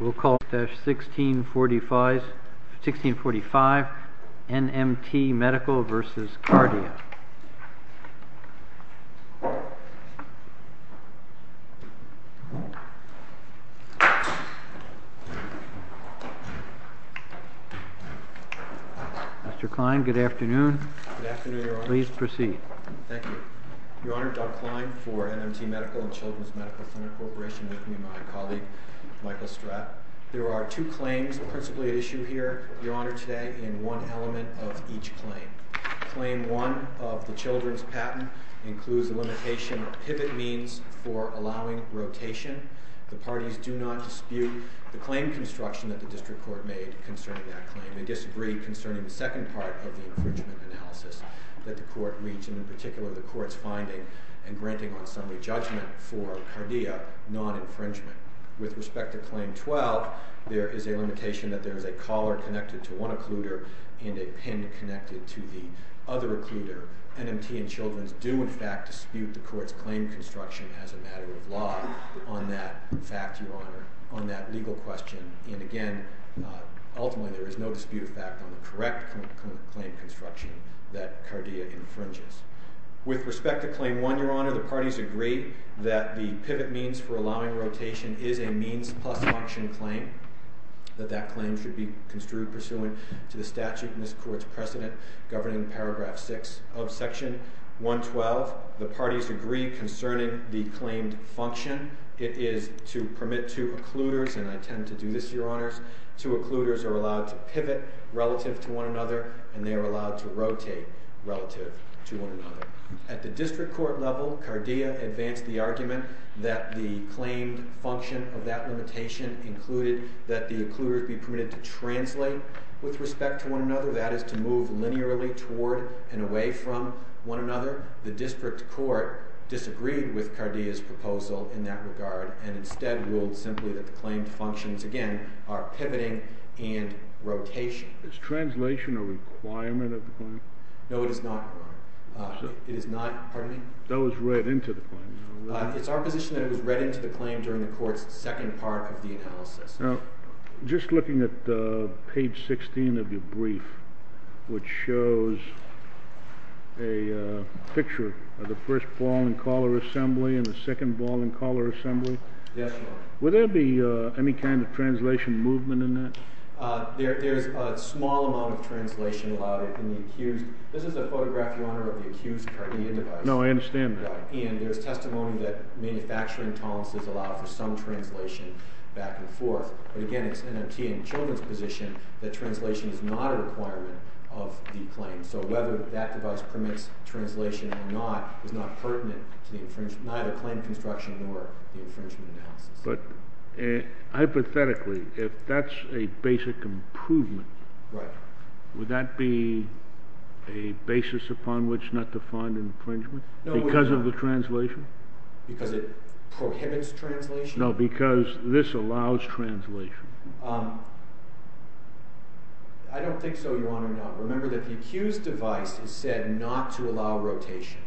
We'll call it 1645 NMT Medical vs. Cardio. Mr. Kline, good afternoon. Good afternoon, Your Honor. Please proceed. Thank you. Your Honor, Doug Kline for NMT Medical and Children's Medical Center Corporation, with me my colleague Michael Strapp. There are two claims principally at issue here, Your Honor, today, and one element of each claim. Claim 1 of the children's patent includes the limitation of pivot means for allowing rotation. The parties do not dispute the claim construction that the district court made concerning that claim. They disagree concerning the second part of the infringement analysis that the court reached, and in particular the court's finding and granting on summary judgment for cardia non-infringement. With respect to claim 12, there is a limitation that there is a collar connected to one occluder and a pin connected to the other occluder. NMT and Children's do in fact dispute the court's claim construction as a matter of law on that fact, Your Honor, on that legal question. And again, ultimately there is no dispute of fact on the correct claim construction that cardia infringes. With respect to claim 1, Your Honor, the parties agree that the pivot means for allowing rotation is a means plus function claim, that that claim should be construed pursuant to the statute in this court's precedent governing paragraph 6 of section 112. The parties agree concerning the claimed function. It is to permit two occluders, and I tend to do this, Your Honors, two occluders are allowed to pivot relative to one another, and they are allowed to rotate relative to one another. At the district court level, cardia advanced the argument that the claimed function of that limitation included that the occluders be permitted to translate with respect to one another, that is to move linearly toward and away from one another. The district court disagreed with cardia's proposal in that regard, and instead ruled simply that the claimed functions, again, are pivoting and rotation. Is translation a requirement of the claim? No, it is not, Your Honor. It is not, pardon me? That was read into the claim. It's our position that it was read into the claim during the court's second part of the analysis. Now, just looking at page 16 of your brief, which shows a picture of the first ball-and-collar assembly and the second ball-and-collar assembly. Yes, Your Honor. Would there be any kind of translation movement in that? There is a small amount of translation allowed in the accused. This is a photograph, Your Honor, of the accused cardia device. No, I understand that. And there's testimony that manufacturing tolerances allow for some translation back and forth. But again, it's NMT and the children's position that translation is not a requirement of the claim. So whether that device permits translation or not is not pertinent to neither claim construction nor the infringement analysis. But hypothetically, if that's a basic improvement, would that be a basis upon which not to find infringement? Because of the translation? Because it prohibits translation? No, because this allows translation. I don't think so, Your Honor. Now, remember that the accused device has said not to allow rotation.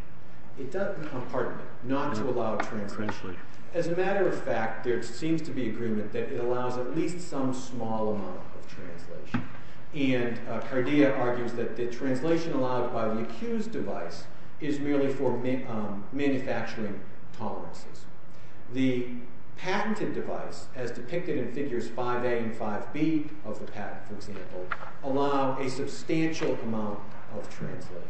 It doesn't. Pardon me. Not to allow translation. Translation. As a matter of fact, there seems to be agreement that it allows at least some small amount of translation. And cardia argues that the translation allowed by the accused device is merely for manufacturing tolerances. The patented device, as depicted in figures 5A and 5B of the patent, for example, allow a substantial amount of translation.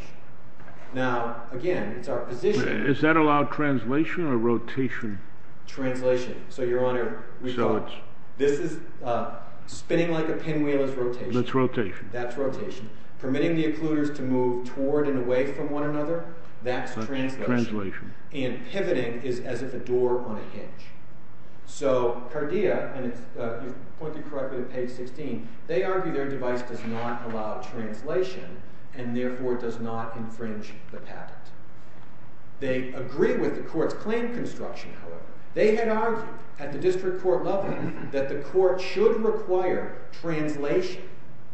Now, again, it's our position. Is that allowed translation or rotation? Translation. So, Your Honor, this is spinning like a pinwheel is rotation. That's rotation. That's rotation. Permitting the occluders to move toward and away from one another, that's translation. Translation. And pivoting is as if a door on a hinge. So cardia, and you've pointed correctly to page 16, they argue their device does not allow translation and therefore does not infringe the patent. They agree with the court's claim construction, however. They had argued at the district court level that the court should require translation,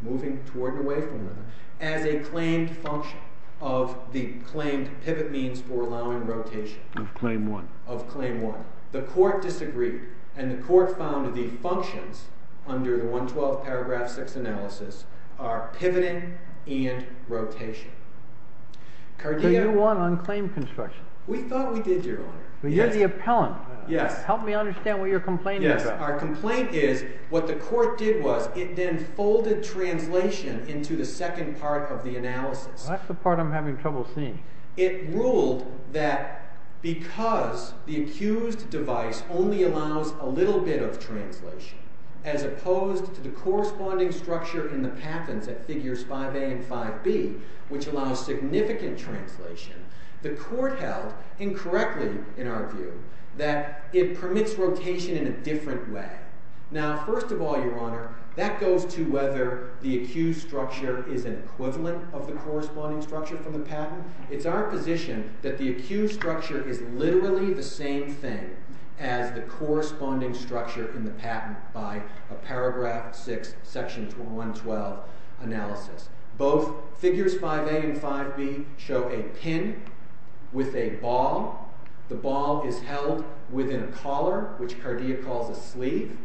moving toward and away from one another, as a claimed function of the claimed pivot means for allowing rotation. Of claim one. Of claim one. The court disagreed. And the court found the functions under the 112th paragraph 6 analysis are pivoting and rotation. But you won on claim construction. We thought we did, Your Honor. You're the appellant. Yes. Help me understand what you're complaining about. Yes. Our complaint is what the court did was it then folded translation into the second part of the analysis. That's the part I'm having trouble seeing. It ruled that because the accused device only allows a little bit of translation, as opposed to the corresponding structure in the patents at figures 5A and 5B, which allows significant translation, the court held, incorrectly in our view, that it permits rotation in a different way. Now, first of all, Your Honor, that goes to whether the accused structure is an equivalent of the corresponding structure from the patent. It's our position that the accused structure is literally the same thing as the corresponding structure in the patent by a paragraph 6 section 112 analysis. Both figures 5A and 5B show a pin with a ball. The ball is held within a collar, which Cardia calls a sleeve.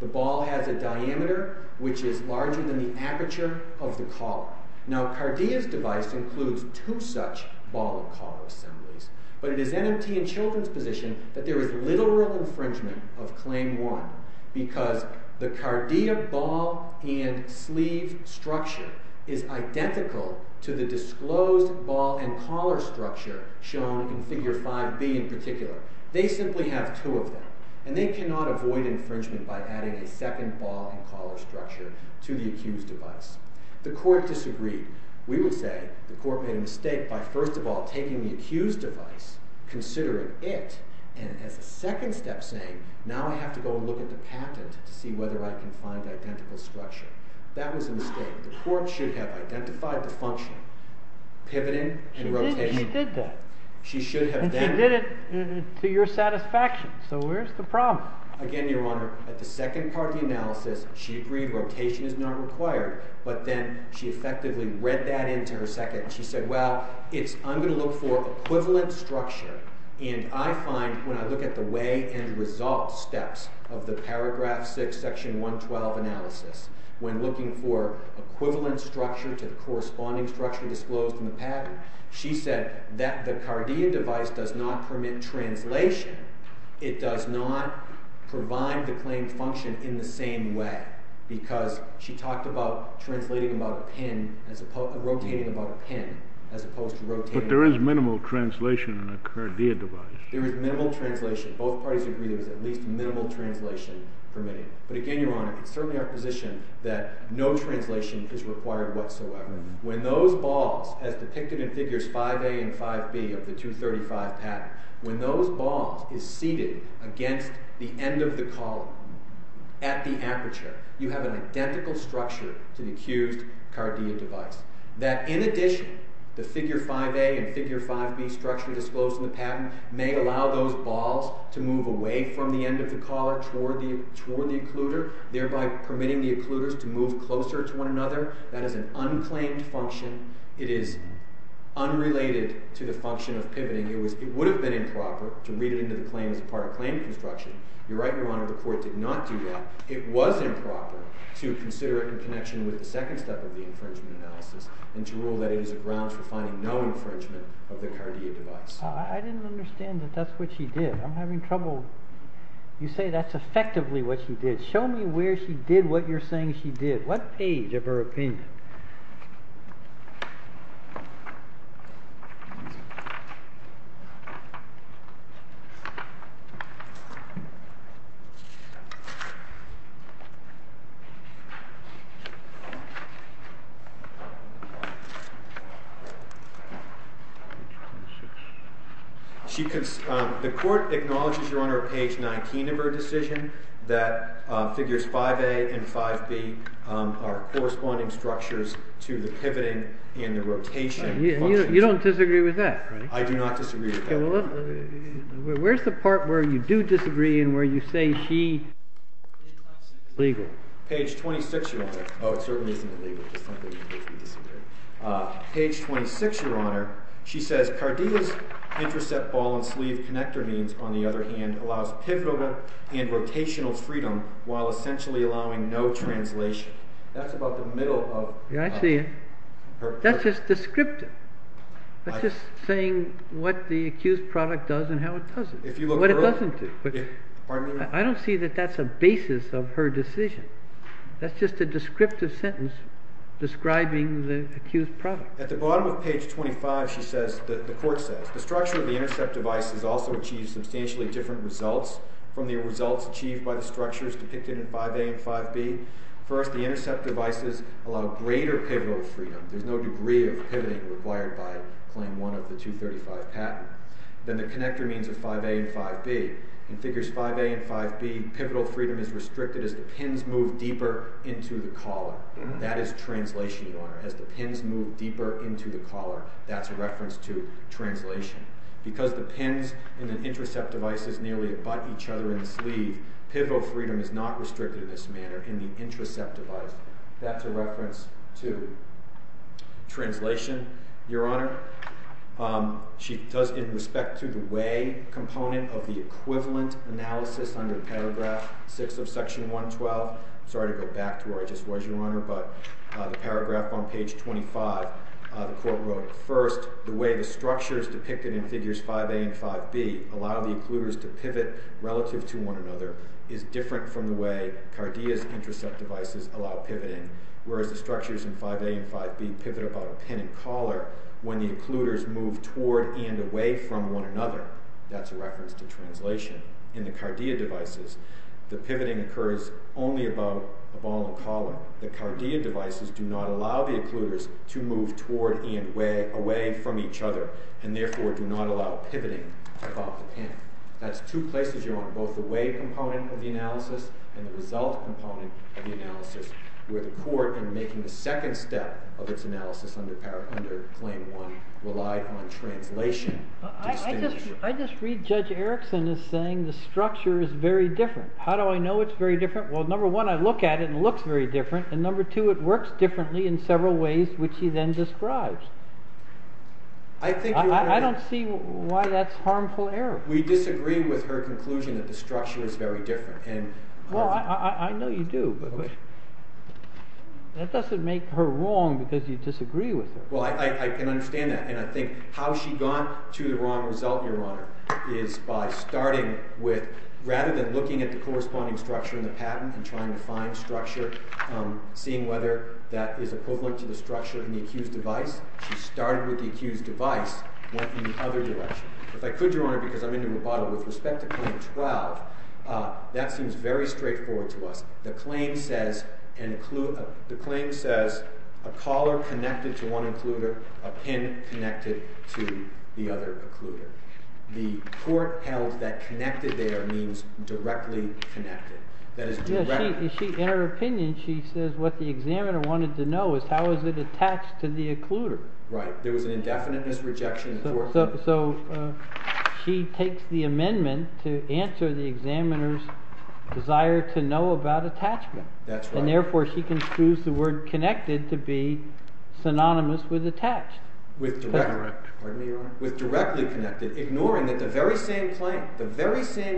The ball has a diameter which is larger than the aperture of the collar. Now, Cardia's device includes two such ball and collar assemblies. But it is NMT and children's position that there is literal infringement of Claim 1 because the Cardia ball and sleeve structure is identical to the disclosed ball and collar structure shown in Figure 5B in particular. They simply have two of them, and they cannot avoid infringement by adding a second ball and collar structure to the accused device. The court disagreed. We would say the court made a mistake by, first of all, taking the accused device, considering it, and as a second step saying, now I have to go look at the patent to see whether I can find identical structure. That was a mistake. The court should have identified the function, pivoting and rotating. She did that. She should have done it. And she did it to your satisfaction. So where's the problem? Again, Your Honor, at the second part of the analysis, she agreed rotation is not required. But then she effectively read that into her second. She said, well, I'm going to look for equivalent structure. And I find when I look at the way and result steps of the paragraph 6, section 112 analysis, when looking for equivalent structure to the corresponding structure disclosed in the patent, she said that the Cardia device does not permit translation. It does not provide the claimed function in the same way. Because she talked about translating about a pin, rotating about a pin, as opposed to rotating about a pin. But there is minimal translation in a Cardia device. There is minimal translation. Both parties agree there is at least minimal translation permitted. But again, Your Honor, it's certainly our position that no translation is required whatsoever. When those balls, as depicted in figures 5A and 5B of the 235 patent, when those balls is seated against the end of the collar at the aperture, you have an identical structure to the accused Cardia device. That in addition, the figure 5A and figure 5B structure disclosed in the patent may allow those balls to move away from the end of the collar toward the occluder, thereby permitting the occluders to move closer to one another. That is an unclaimed function. It is unrelated to the function of pivoting. It would have been improper to read it into the claim as part of claim construction. You're right, Your Honor. The court did not do that. It was improper to consider it in connection with the second step of the infringement analysis and to rule that it is a grounds for finding no infringement of the Cardia device. I didn't understand that that's what she did. I'm having trouble. You say that's effectively what she did. Show me where she did what you're saying she did. What page of her opinion? The court acknowledges, Your Honor, page 19 of her decision that figures 5A and 5B are corresponding structures. You don't disagree with that? I do not disagree with that. Where's the part where you do disagree and where you say she is illegal? Page 26, Your Honor. Oh, it certainly isn't illegal. Page 26, Your Honor. She says, Cardia's intercept ball and sleeve connector means, on the other hand, allows pivotal and rotational freedom while essentially allowing no translation. That's about the middle of her decision. I see. That's just descriptive. That's just saying what the accused product does and how it doesn't, what it doesn't do. Pardon me, Your Honor? I don't see that that's a basis of her decision. That's just a descriptive sentence describing the accused product. At the bottom of page 25, she says, the court says, the structure of the intercept device has also achieved substantially different results from the results achieved by the structures depicted in 5A and 5B. First, the intercept devices allow greater pivotal freedom. There's no degree of pivoting required by Claim 1 of the 235 patent. Then the connector means of 5A and 5B. In Figures 5A and 5B, pivotal freedom is restricted as the pins move deeper into the collar. That is translation, Your Honor, as the pins move deeper into the collar. That's a reference to translation. Because the pins in the intercept devices nearly butt each other in the sleeve, pivotal freedom is not restricted in this manner in the intercept device. That's a reference to translation, Your Honor. She does, in respect to the way component of the equivalent analysis under paragraph 6 of Section 112, sorry to go back to where I just was, Your Honor, but the paragraph on page 25, the court wrote, First, the way the structures depicted in Figures 5A and 5B allow the occluders to pivot relative to one another is different from the way CARDIA's intercept devices allow pivoting, whereas the structures in 5A and 5B pivot about a pin in collar when the occluders move toward and away from one another. That's a reference to translation. In the CARDIA devices, the pivoting occurs only above a ball and collar. The CARDIA devices do not allow the occluders to move toward and away from each other, and therefore do not allow pivoting above the pin. That's two places, Your Honor, both the way component of the analysis and the result component of the analysis where the court, in making the second step of its analysis under Claim 1, relied on translation. I just read Judge Erickson as saying the structure is very different. How do I know it's very different? Well, number one, I look at it and it looks very different, and number two, it works differently in several ways, which he then describes. I don't see why that's harmful error. We disagree with her conclusion that the structure is very different. Well, I know you do, but that doesn't make her wrong because you disagree with her. Well, I can understand that, and I think how she got to the wrong result, Your Honor, is by starting with rather than looking at the corresponding structure in the patent and trying to find structure, seeing whether that is equivalent to the structure in the accused device, she started with the accused device, went in the other direction. If I could, Your Honor, because I'm into rebuttal with respect to Claim 12, that seems very straightforward to us. The claim says a collar connected to one occluder, a pin connected to the other occluder. The court held that connected there means directly connected. In her opinion, she says what the examiner wanted to know is how is it attached to the occluder. Right. There was an indefiniteness rejection court. So she takes the amendment to answer the examiner's desire to know about attachment. That's right. And therefore she concludes the word connected to be synonymous with attached. With directly connected, ignoring that the very same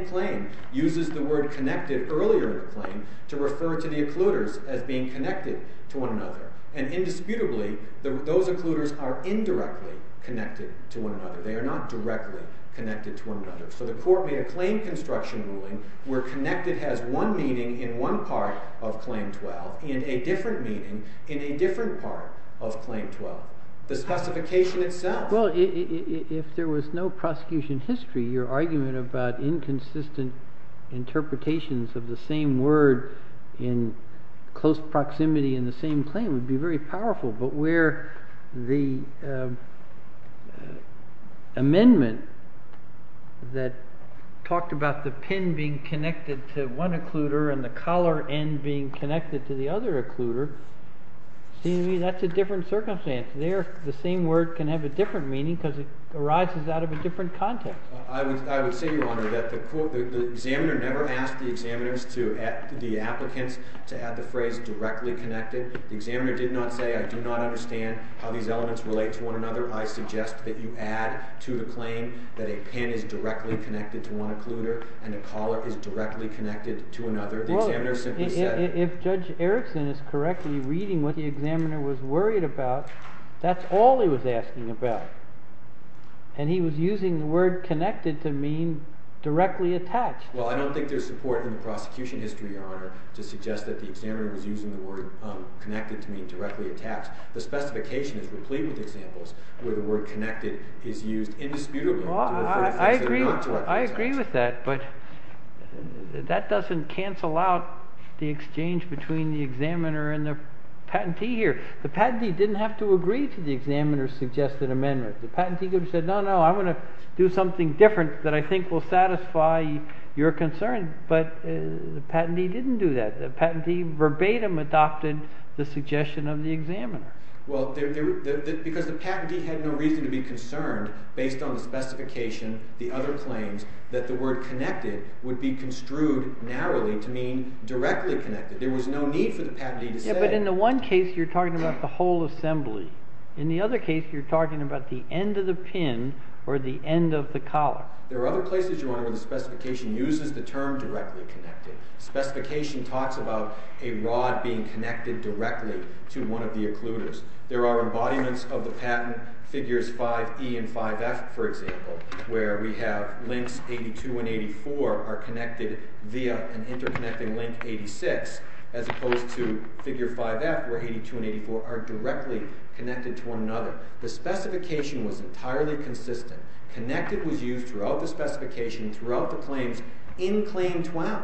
claim uses the word connected earlier in the claim to refer to the occluders as being connected to one another. And indisputably, those occluders are indirectly connected to one another. They are not directly connected to one another. So the court made a claim construction ruling where connected has one meaning in one part of Claim 12 and a different meaning in a different part of Claim 12. The specification itself. Well, if there was no prosecution history, your argument about inconsistent interpretations of the same word in close proximity in the same claim would be very powerful. But where the amendment that talked about the pin being connected to one occluder and the collar end being connected to the other occluder, that's a different circumstance. There, the same word can have a different meaning because it arises out of a different context. I would say, Your Honor, that the examiner never asked the applicants to add the phrase directly connected. The examiner did not say, I do not understand how these elements relate to one another. I suggest that you add to the claim that a pin is directly connected to one occluder and a collar is directly connected to another. Well, if Judge Erickson is correctly reading what the examiner was worried about, that's all he was asking about. And he was using the word connected to mean directly attached. Well, I don't think there's support in the prosecution history, Your Honor, to suggest that the examiner was using the word connected to mean directly attached. The specification is replete with examples where the word connected is used indisputably. I agree with that, but that doesn't cancel out the exchange between the examiner and the patentee here. The patentee didn't have to agree to the examiner's suggested amendment. The patentee could have said, no, no, I want to do something different that I think will satisfy your concern. But the patentee didn't do that. The patentee verbatim adopted the suggestion of the examiner. Well, because the patentee had no reason to be concerned based on the specification, the other claims, that the word connected would be construed narrowly to mean directly connected. There was no need for the patentee to say it. Yeah, but in the one case, you're talking about the whole assembly. In the other case, you're talking about the end of the pin or the end of the collar. There are other places, Your Honor, where the specification uses the term directly connected. Specification talks about a rod being connected directly to one of the occluders. There are embodiments of the patent, figures 5E and 5F, for example, where we have links 82 and 84 are connected via an interconnecting link, 86, as opposed to figure 5F where 82 and 84 are directly connected to one another. The specification was entirely consistent. Connected was used throughout the specification, throughout the claims, in Claim 12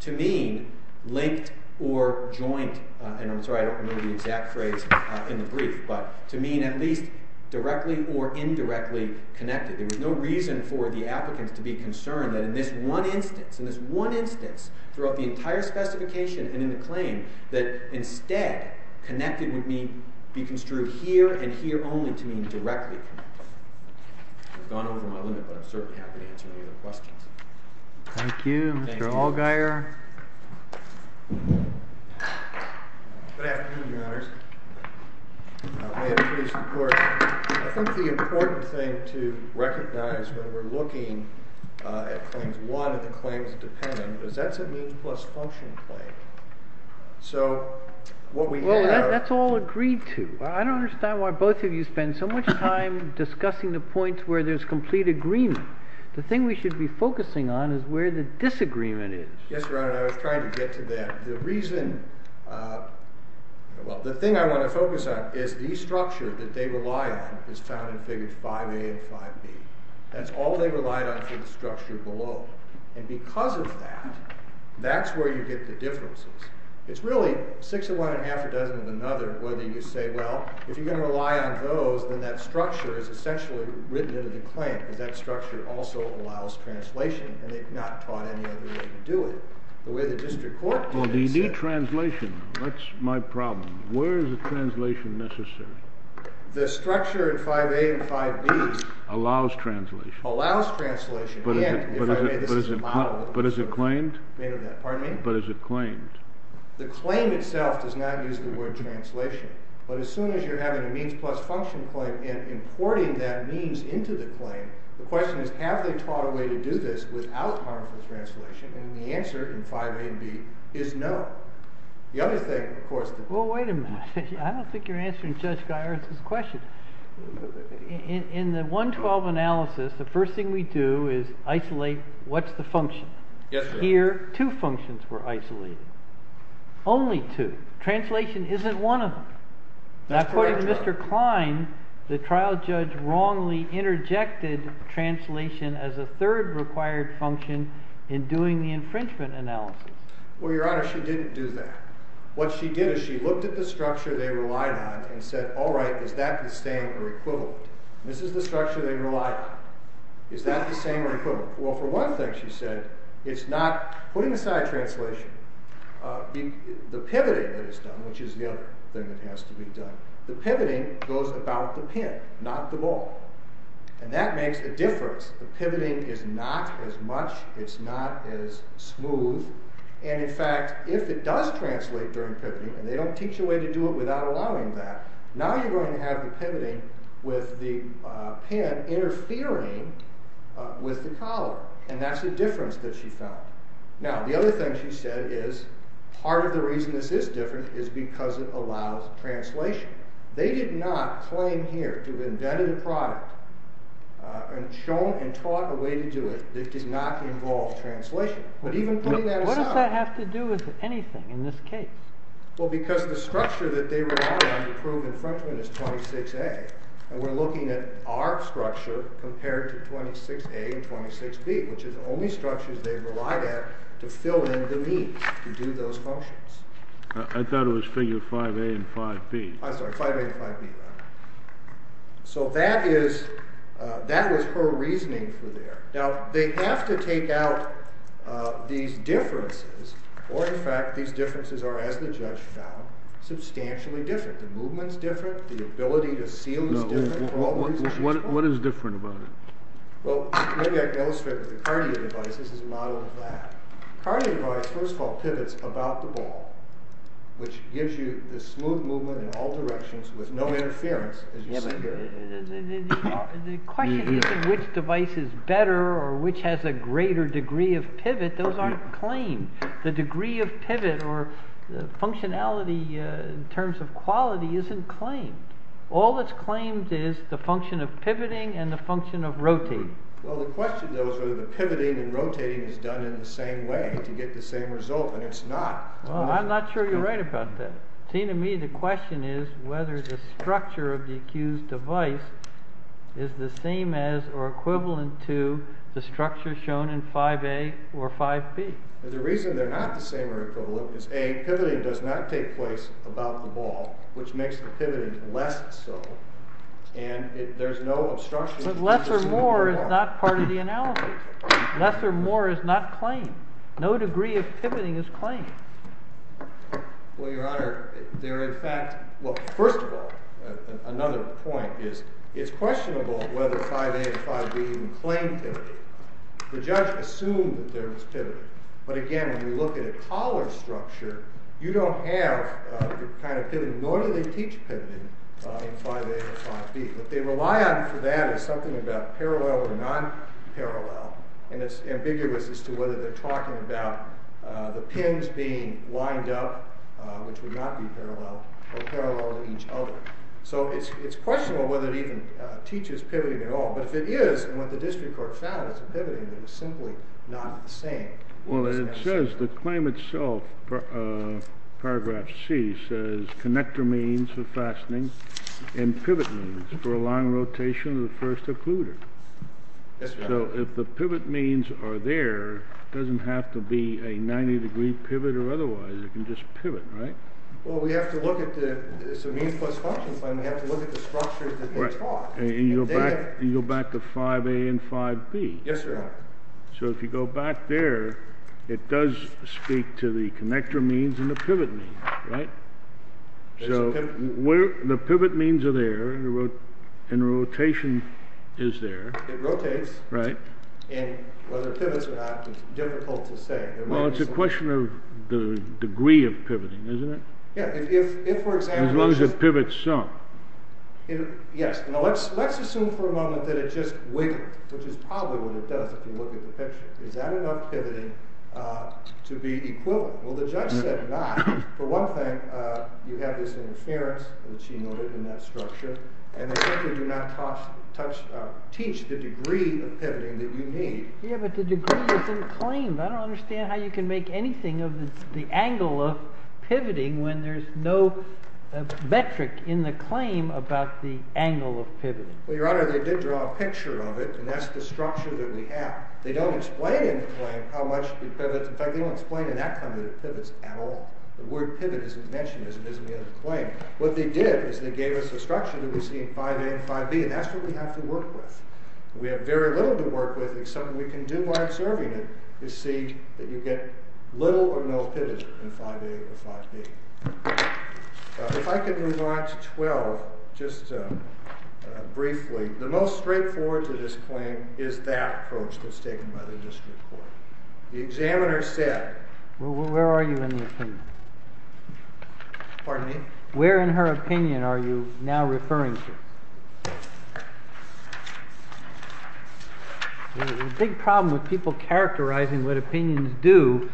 to mean linked or joined. And I'm sorry, I don't know the exact phrase in the brief, but to mean at least directly or indirectly connected. There was no reason for the applicants to be concerned that in this one instance, in this one instance throughout the entire specification and in the claim, that instead connected would be construed here and here only to mean directly connected. I've gone over my limit, but I'm certainly happy to answer any other questions. Thank you. Thank you. Mr. Allgaier. Good afternoon, Your Honors. May it please the Court. I think the important thing to recognize when we're looking at Claims 1 and the Claims of Dependent is that's a means plus function claim. So what we have- Well, that's all agreed to. I don't understand why both of you spend so much time discussing the points where there's complete agreement. The thing we should be focusing on is where the disagreement is. Yes, Your Honor. I was trying to get to that. The reason- well, the thing I want to focus on is the structure that they rely on is found in Figures 5a and 5b. That's all they relied on for the structure below. And because of that, that's where you get the differences. It's really six of one and half a dozen of another whether you say, well, if you're going to rely on those, then that structure is essentially written into the claim. Because that structure also allows translation, and they've not taught any other way to do it. The way the district court- Well, do you need translation? That's my problem. Where is the translation necessary? The structure in 5a and 5b- Allows translation. Allows translation. And, if I may, this is a model- But is it claimed? Pardon me? But is it claimed? The claim itself does not use the word translation. But as soon as you're having a means plus function claim and importing that means into the claim, the question is, have they taught a way to do this without harmful translation? And the answer in 5a and 5b is no. The other thing, of course- Well, wait a minute. I don't think you're answering Judge Geiertz's question. In the 112 analysis, the first thing we do is isolate what's the function. Yes, Your Honor. Here, two functions were isolated. Only two. Translation isn't one of them. That's correct, Your Honor. According to Mr. Klein, the trial judge wrongly interjected translation as a third required function in doing the infringement analysis. Well, Your Honor, she didn't do that. What she did is she looked at the structure they relied on and said, all right, is that the same or equivalent? This is the structure they relied on. Is that the same or equivalent? Well, for one thing, she said, it's not putting aside translation, the pivoting that is done, which is the other thing that has to be done, the pivoting goes about the pin, not the ball. And that makes a difference. The pivoting is not as much. It's not as smooth. And in fact, if it does translate during pivoting, and they don't teach a way to do it without allowing that, now you're going to have the pivoting with the pin interfering with the collar. And that's the difference that she found. Now, the other thing she said is part of the reason this is different is because it allows translation. They did not claim here to have invented a product and shown and taught a way to do it that did not involve translation. But even putting that aside. What does that have to do with anything in this case? Well, because the structure that they relied on to prove infringement is 26A. And we're looking at our structure compared to 26A and 26B, which is the only structures they relied at to fill in the need to do those functions. I thought it was figure 5A and 5B. I'm sorry, 5A and 5B. So that is, that was her reasoning for there. Now, they have to take out these differences or, in fact, these differences are, as the judge found, substantially different. The movement's different. The ability to seal is different. What is different about it? Well, maybe I can illustrate with the cardio device. This is a model of that. Cardio device, first of all, pivots about the ball, which gives you the smooth movement in all directions with no interference, as you see here. The question isn't which device is better or which has a greater degree of pivot. Those aren't claimed. The degree of pivot or functionality in terms of quality isn't claimed. All that's claimed is the function of pivoting and the function of rotating. Well, the question, though, is whether the pivoting and rotating is done in the same way to get the same result, and it's not. Well, I'm not sure you're right about that. It seems to me the question is whether the structure of the accused device is the same as or equivalent to the structure shown in 5A or 5B. The reason they're not the same or equivalent is, A, pivoting does not take place about the ball, which makes the pivoting less so, and there's no obstruction. But less or more is not part of the analysis. Less or more is not claimed. No degree of pivoting is claimed. Well, Your Honor, they're in fact—well, first of all, another point is it's questionable whether 5A and 5B even claim pivoting. The judge assumed that there was pivoting. But again, when you look at a collar structure, you don't have the kind of pivoting, nor do they teach pivoting in 5A and 5B. What they rely on for that is something about parallel or non-parallel, and it's ambiguous as to whether they're talking about the pins being lined up, which would not be parallel, or parallel to each other. So it's questionable whether it even teaches pivoting at all. But if it is, and what the district court found is pivoting, then it's simply not the same. Well, it says the claim itself, paragraph C, says connector means for fastening and pivot means for a long rotation of the first occluder. Yes, Your Honor. So if the pivot means are there, it doesn't have to be a 90-degree pivot or otherwise. It can just pivot, right? Well, we have to look at the—it's a means plus function claim. We have to look at the structures that they taught. And you go back to 5A and 5B. Yes, Your Honor. So if you go back there, it does speak to the connector means and the pivot means, right? So the pivot means are there, and the rotation is there. It rotates. Right. And whether it pivots or not is difficult to say. Well, it's a question of the degree of pivoting, isn't it? Yeah. If, for example— As long as it pivots some. Yes. Now, let's assume for a moment that it just wiggled, which is probably what it does if you look at the picture. Is that enough pivoting to be equivalent? Well, the judge said not. For one thing, you have this interference, which he noted in that structure, and they simply do not teach the degree of pivoting that you need. Yeah, but the degree is in the claim. I don't understand how you can make anything of the angle of pivoting when there's no metric in the claim about the angle of pivoting. Well, Your Honor, they did draw a picture of it, and that's the structure that we have. They don't explain in the claim how much it pivots. The word pivot isn't mentioned as it is in the other claim. What they did is they gave us a structure that we see in 5A and 5B, and that's what we have to work with. We have very little to work with, except what we can do by observing it is see that you get little or no pivot in 5A or 5B. If I could move on to 12, just briefly. The most straightforward to this claim is that approach that's taken by the district court. The examiner said. Well, where are you in the opinion? Pardon me? Where in her opinion are you now referring to? There's a big problem with people characterizing what opinions do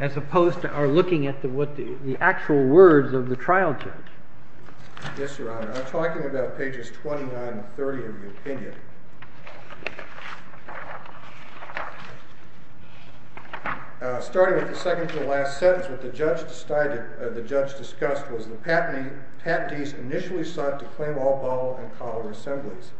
as opposed to our looking at the actual words of the trial judge. Yes, Your Honor. I'm talking about pages 29 and 30 of the opinion. Starting with the second to the last sentence, what the judge discussed was the patentees initially sought to claim all ball and collar assemblies.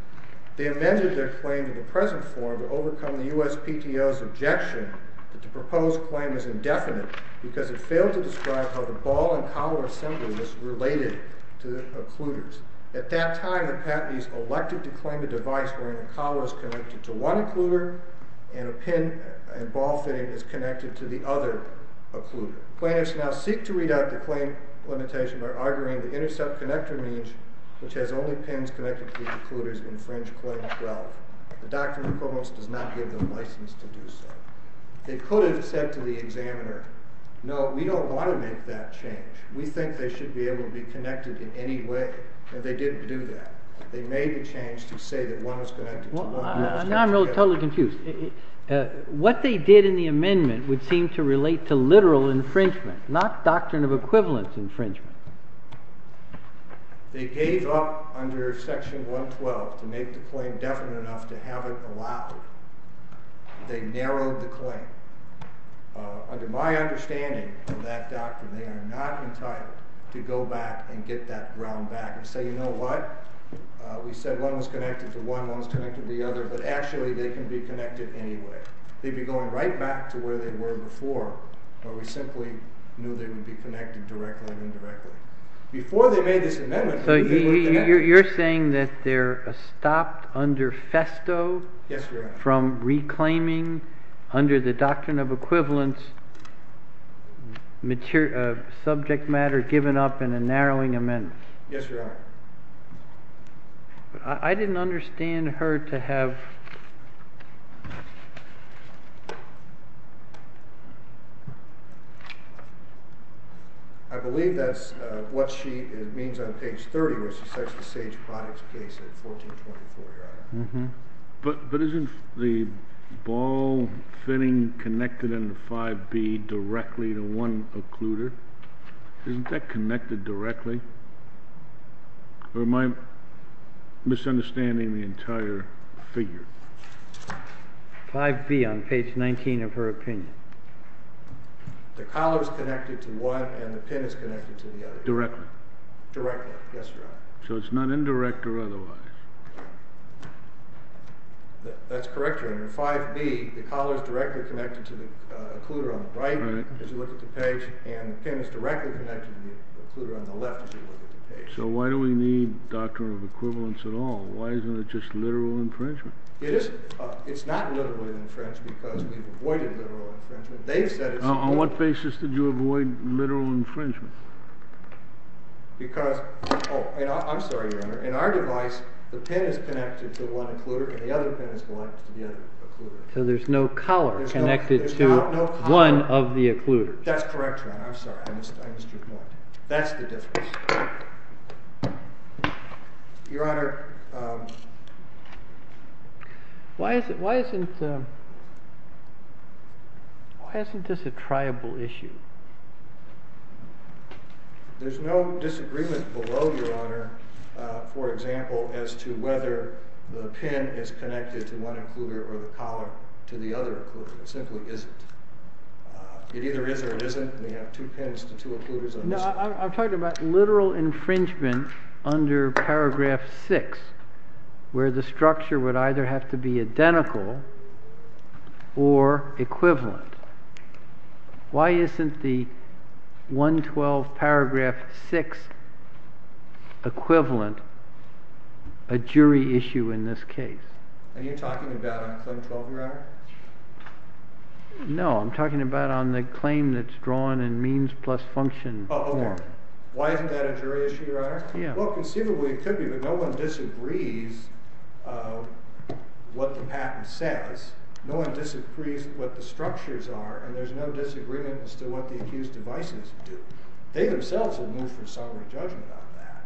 They amended their claim in the present form to overcome the USPTO's objection that the proposed claim is indefinite because it failed to describe how the ball and collar assembly was related to the occluders. At that time, the patentees elected to claim a device wherein the collar is connected to one occluder and a pin and ball fitting is connected to the other occluder. Plaintiffs now seek to read out the claim limitation by arguing the intercept connector means, which has only pins connected to the occluders, infringe Claim 12. The doctrine of equivalence does not give them license to do so. They could have said to the examiner, no, we don't want to make that change. We think they should be able to be connected in any way. And they didn't do that. They made the change to say that one was connected to one. Now I'm totally confused. What they did in the amendment would seem to relate to literal infringement, not doctrine of equivalence infringement. They gave up under Section 112 to make the claim definite enough to have it allowed. They narrowed the claim. Under my understanding of that doctrine, they are not entitled to go back and get that ground back and say, you know what? We said one was connected to one, one was connected to the other, but actually they can be connected anyway. They'd be going right back to where they were before, where we simply knew they would be connected directly and indirectly. Before they made this amendment, they were connected. You're saying that they're stopped under FESTO from reclaiming under the doctrine of equivalence subject matter given up in a narrowing amendment. Yes, Your Honor. I didn't understand her to have. I believe that's what she means on page 30 where she says the Sage products case in 1424, Your Honor. But isn't the ball fitting connected in the 5B directly to one occluder? Isn't that connected directly? Or am I misunderstanding the entire figure? 5B on page 19 of her opinion. The collar is connected to one, and the pin is connected to the other. Directly? Directly, yes, Your Honor. So it's not indirect or otherwise? That's correct, Your Honor. 5B, the collar is directly connected to the occluder on the right as you look at the page, and the pin is directly connected to the occluder on the left as you look at the page. So why do we need doctrine of equivalence at all? Why isn't it just literal infringement? It is. It's not literally infringed because we've avoided literal infringement. On what basis did you avoid literal infringement? Because, oh, I'm sorry, Your Honor. In our device, the pin is connected to one occluder, and the other pin is connected to the other occluder. So there's no collar connected to one of the occluders. That's correct, Your Honor. I'm sorry. I missed your point. That's the difference. Your Honor, why isn't this a triable issue? There's no disagreement below, Your Honor, for example, as to whether the pin is connected to one occluder or the collar to the other occluder. It simply isn't. It either is or it isn't. We have two pins to two occluders on this. I'm talking about literal infringement under paragraph 6 where the structure would either have to be identical or equivalent. Why isn't the 112 paragraph 6 equivalent a jury issue in this case? Are you talking about a claim 12, Your Honor? No, I'm talking about on the claim that's drawn in means plus function. Oh, OK. Why isn't that a jury issue, Your Honor? Well, conceivably it could be, but no one disagrees what the patent says. No one disagrees what the structures are, and there's no disagreement as to what the accused devices do. They themselves have moved from summary judgment on that.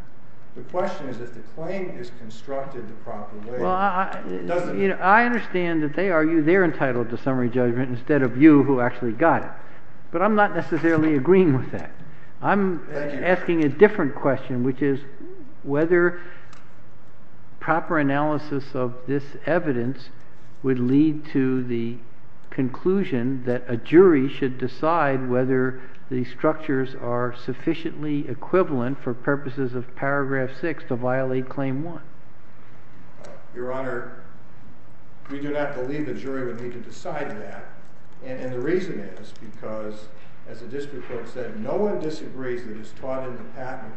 The question is if the claim is constructed the proper way. I understand that they argue they're entitled to summary judgment instead of you who actually got it. But I'm not necessarily agreeing with that. I'm asking a different question, which is whether proper analysis of this evidence would lead to the conclusion that a jury should decide whether the structures are sufficiently equivalent for purposes of paragraph 6 to violate claim 1. Your Honor, we do not believe the jury would need to decide that. And the reason is because, as the district court said, no one disagrees that it's taught in the patent.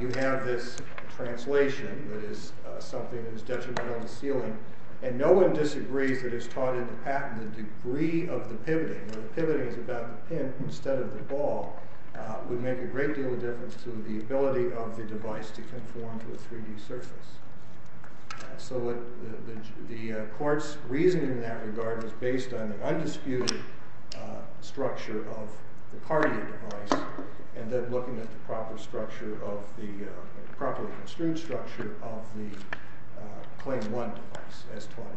You have this translation that is something that is detrimental to sealing, and no one disagrees that it's taught in the patent. The degree of the pivoting, where the pivoting is about the pin instead of the ball, would make a great deal of difference to the ability of the device to conform to a 3D surface. So the court's reasoning in that regard is based on the undisputed structure of the Cartier device, and then looking at the properly construed structure of the Claim 1 device as taught in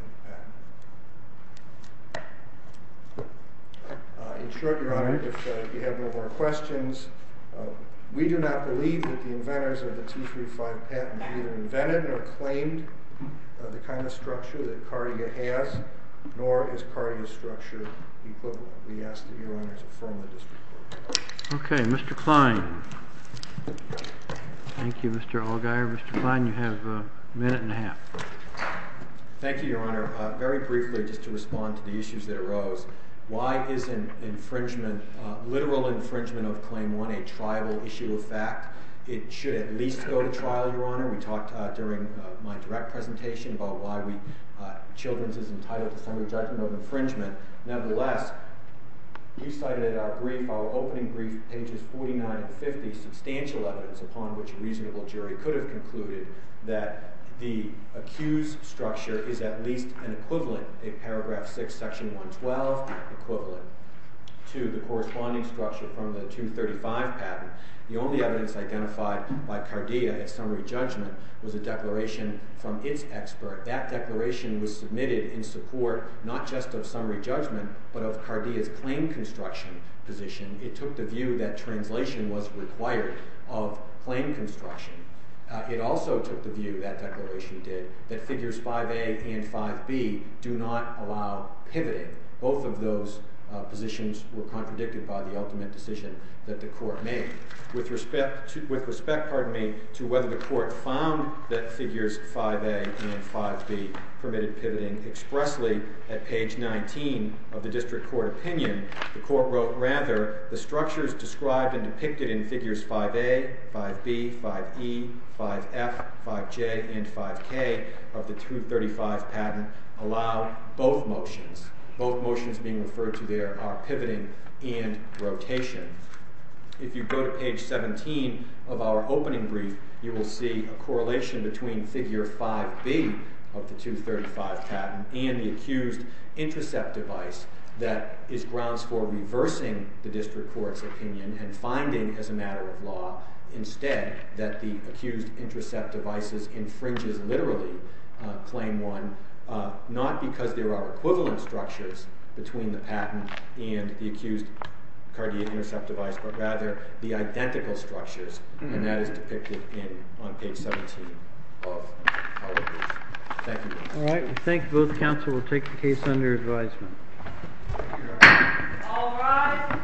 the patent. In short, Your Honor, if you have no more questions, we do not believe that the inventors of the T3-5 patent either invented or claimed the kind of structure that Cartier has, nor is Cartier's structure equivalent. We ask that Your Honor's affirm the district court. Okay. Mr. Klein. Thank you, Mr. Allgaier. Mr. Klein, you have a minute and a half. Thank you, Your Honor. Very briefly, just to respond to the issues that arose, why isn't infringement, literal infringement of Claim 1, a triable issue of fact? It should at least go to trial, Your Honor. We talked during my direct presentation about why Children's is entitled to summary judgment of infringement. Nevertheless, you cited in our brief, our opening brief, pages 49 and 50, substantial evidence upon which a reasonable jury could have concluded that the accused structure is at least an equivalent, a paragraph 6, section 112 equivalent to the corresponding structure from the 235 patent. The only evidence identified by Cartier as summary judgment was a declaration from its expert. That declaration was submitted in support not just of summary judgment, but of Cartier's claim construction position. It took the view that translation was required of claim construction. It also took the view, that declaration did, that figures 5A and 5B do not allow pivoting. Both of those positions were contradicted by the ultimate decision that the court made. With respect, pardon me, to whether the court found that figures 5A and 5B permitted pivoting expressly at page 19 of the district court opinion, the court wrote, rather, the structures described and depicted in figures 5A, 5B, 5E, 5F, 5J, and 5K of the 235 patent allow both motions. Both motions being referred to there are pivoting and rotation. If you go to page 17 of our opening brief, you will see a correlation between figure 5B of the 235 patent and the accused intercept device that is grounds for reversing the district court's opinion and finding, as a matter of law, instead, that the accused intercept device infringes, literally, claim 1, not because there are equivalent structures between the patent and the accused Cartier intercept device, but rather, the identical structures, and that is depicted on page 17 of our brief. Thank you. All right, we thank both counsel. We'll take the case under advisement. All rise.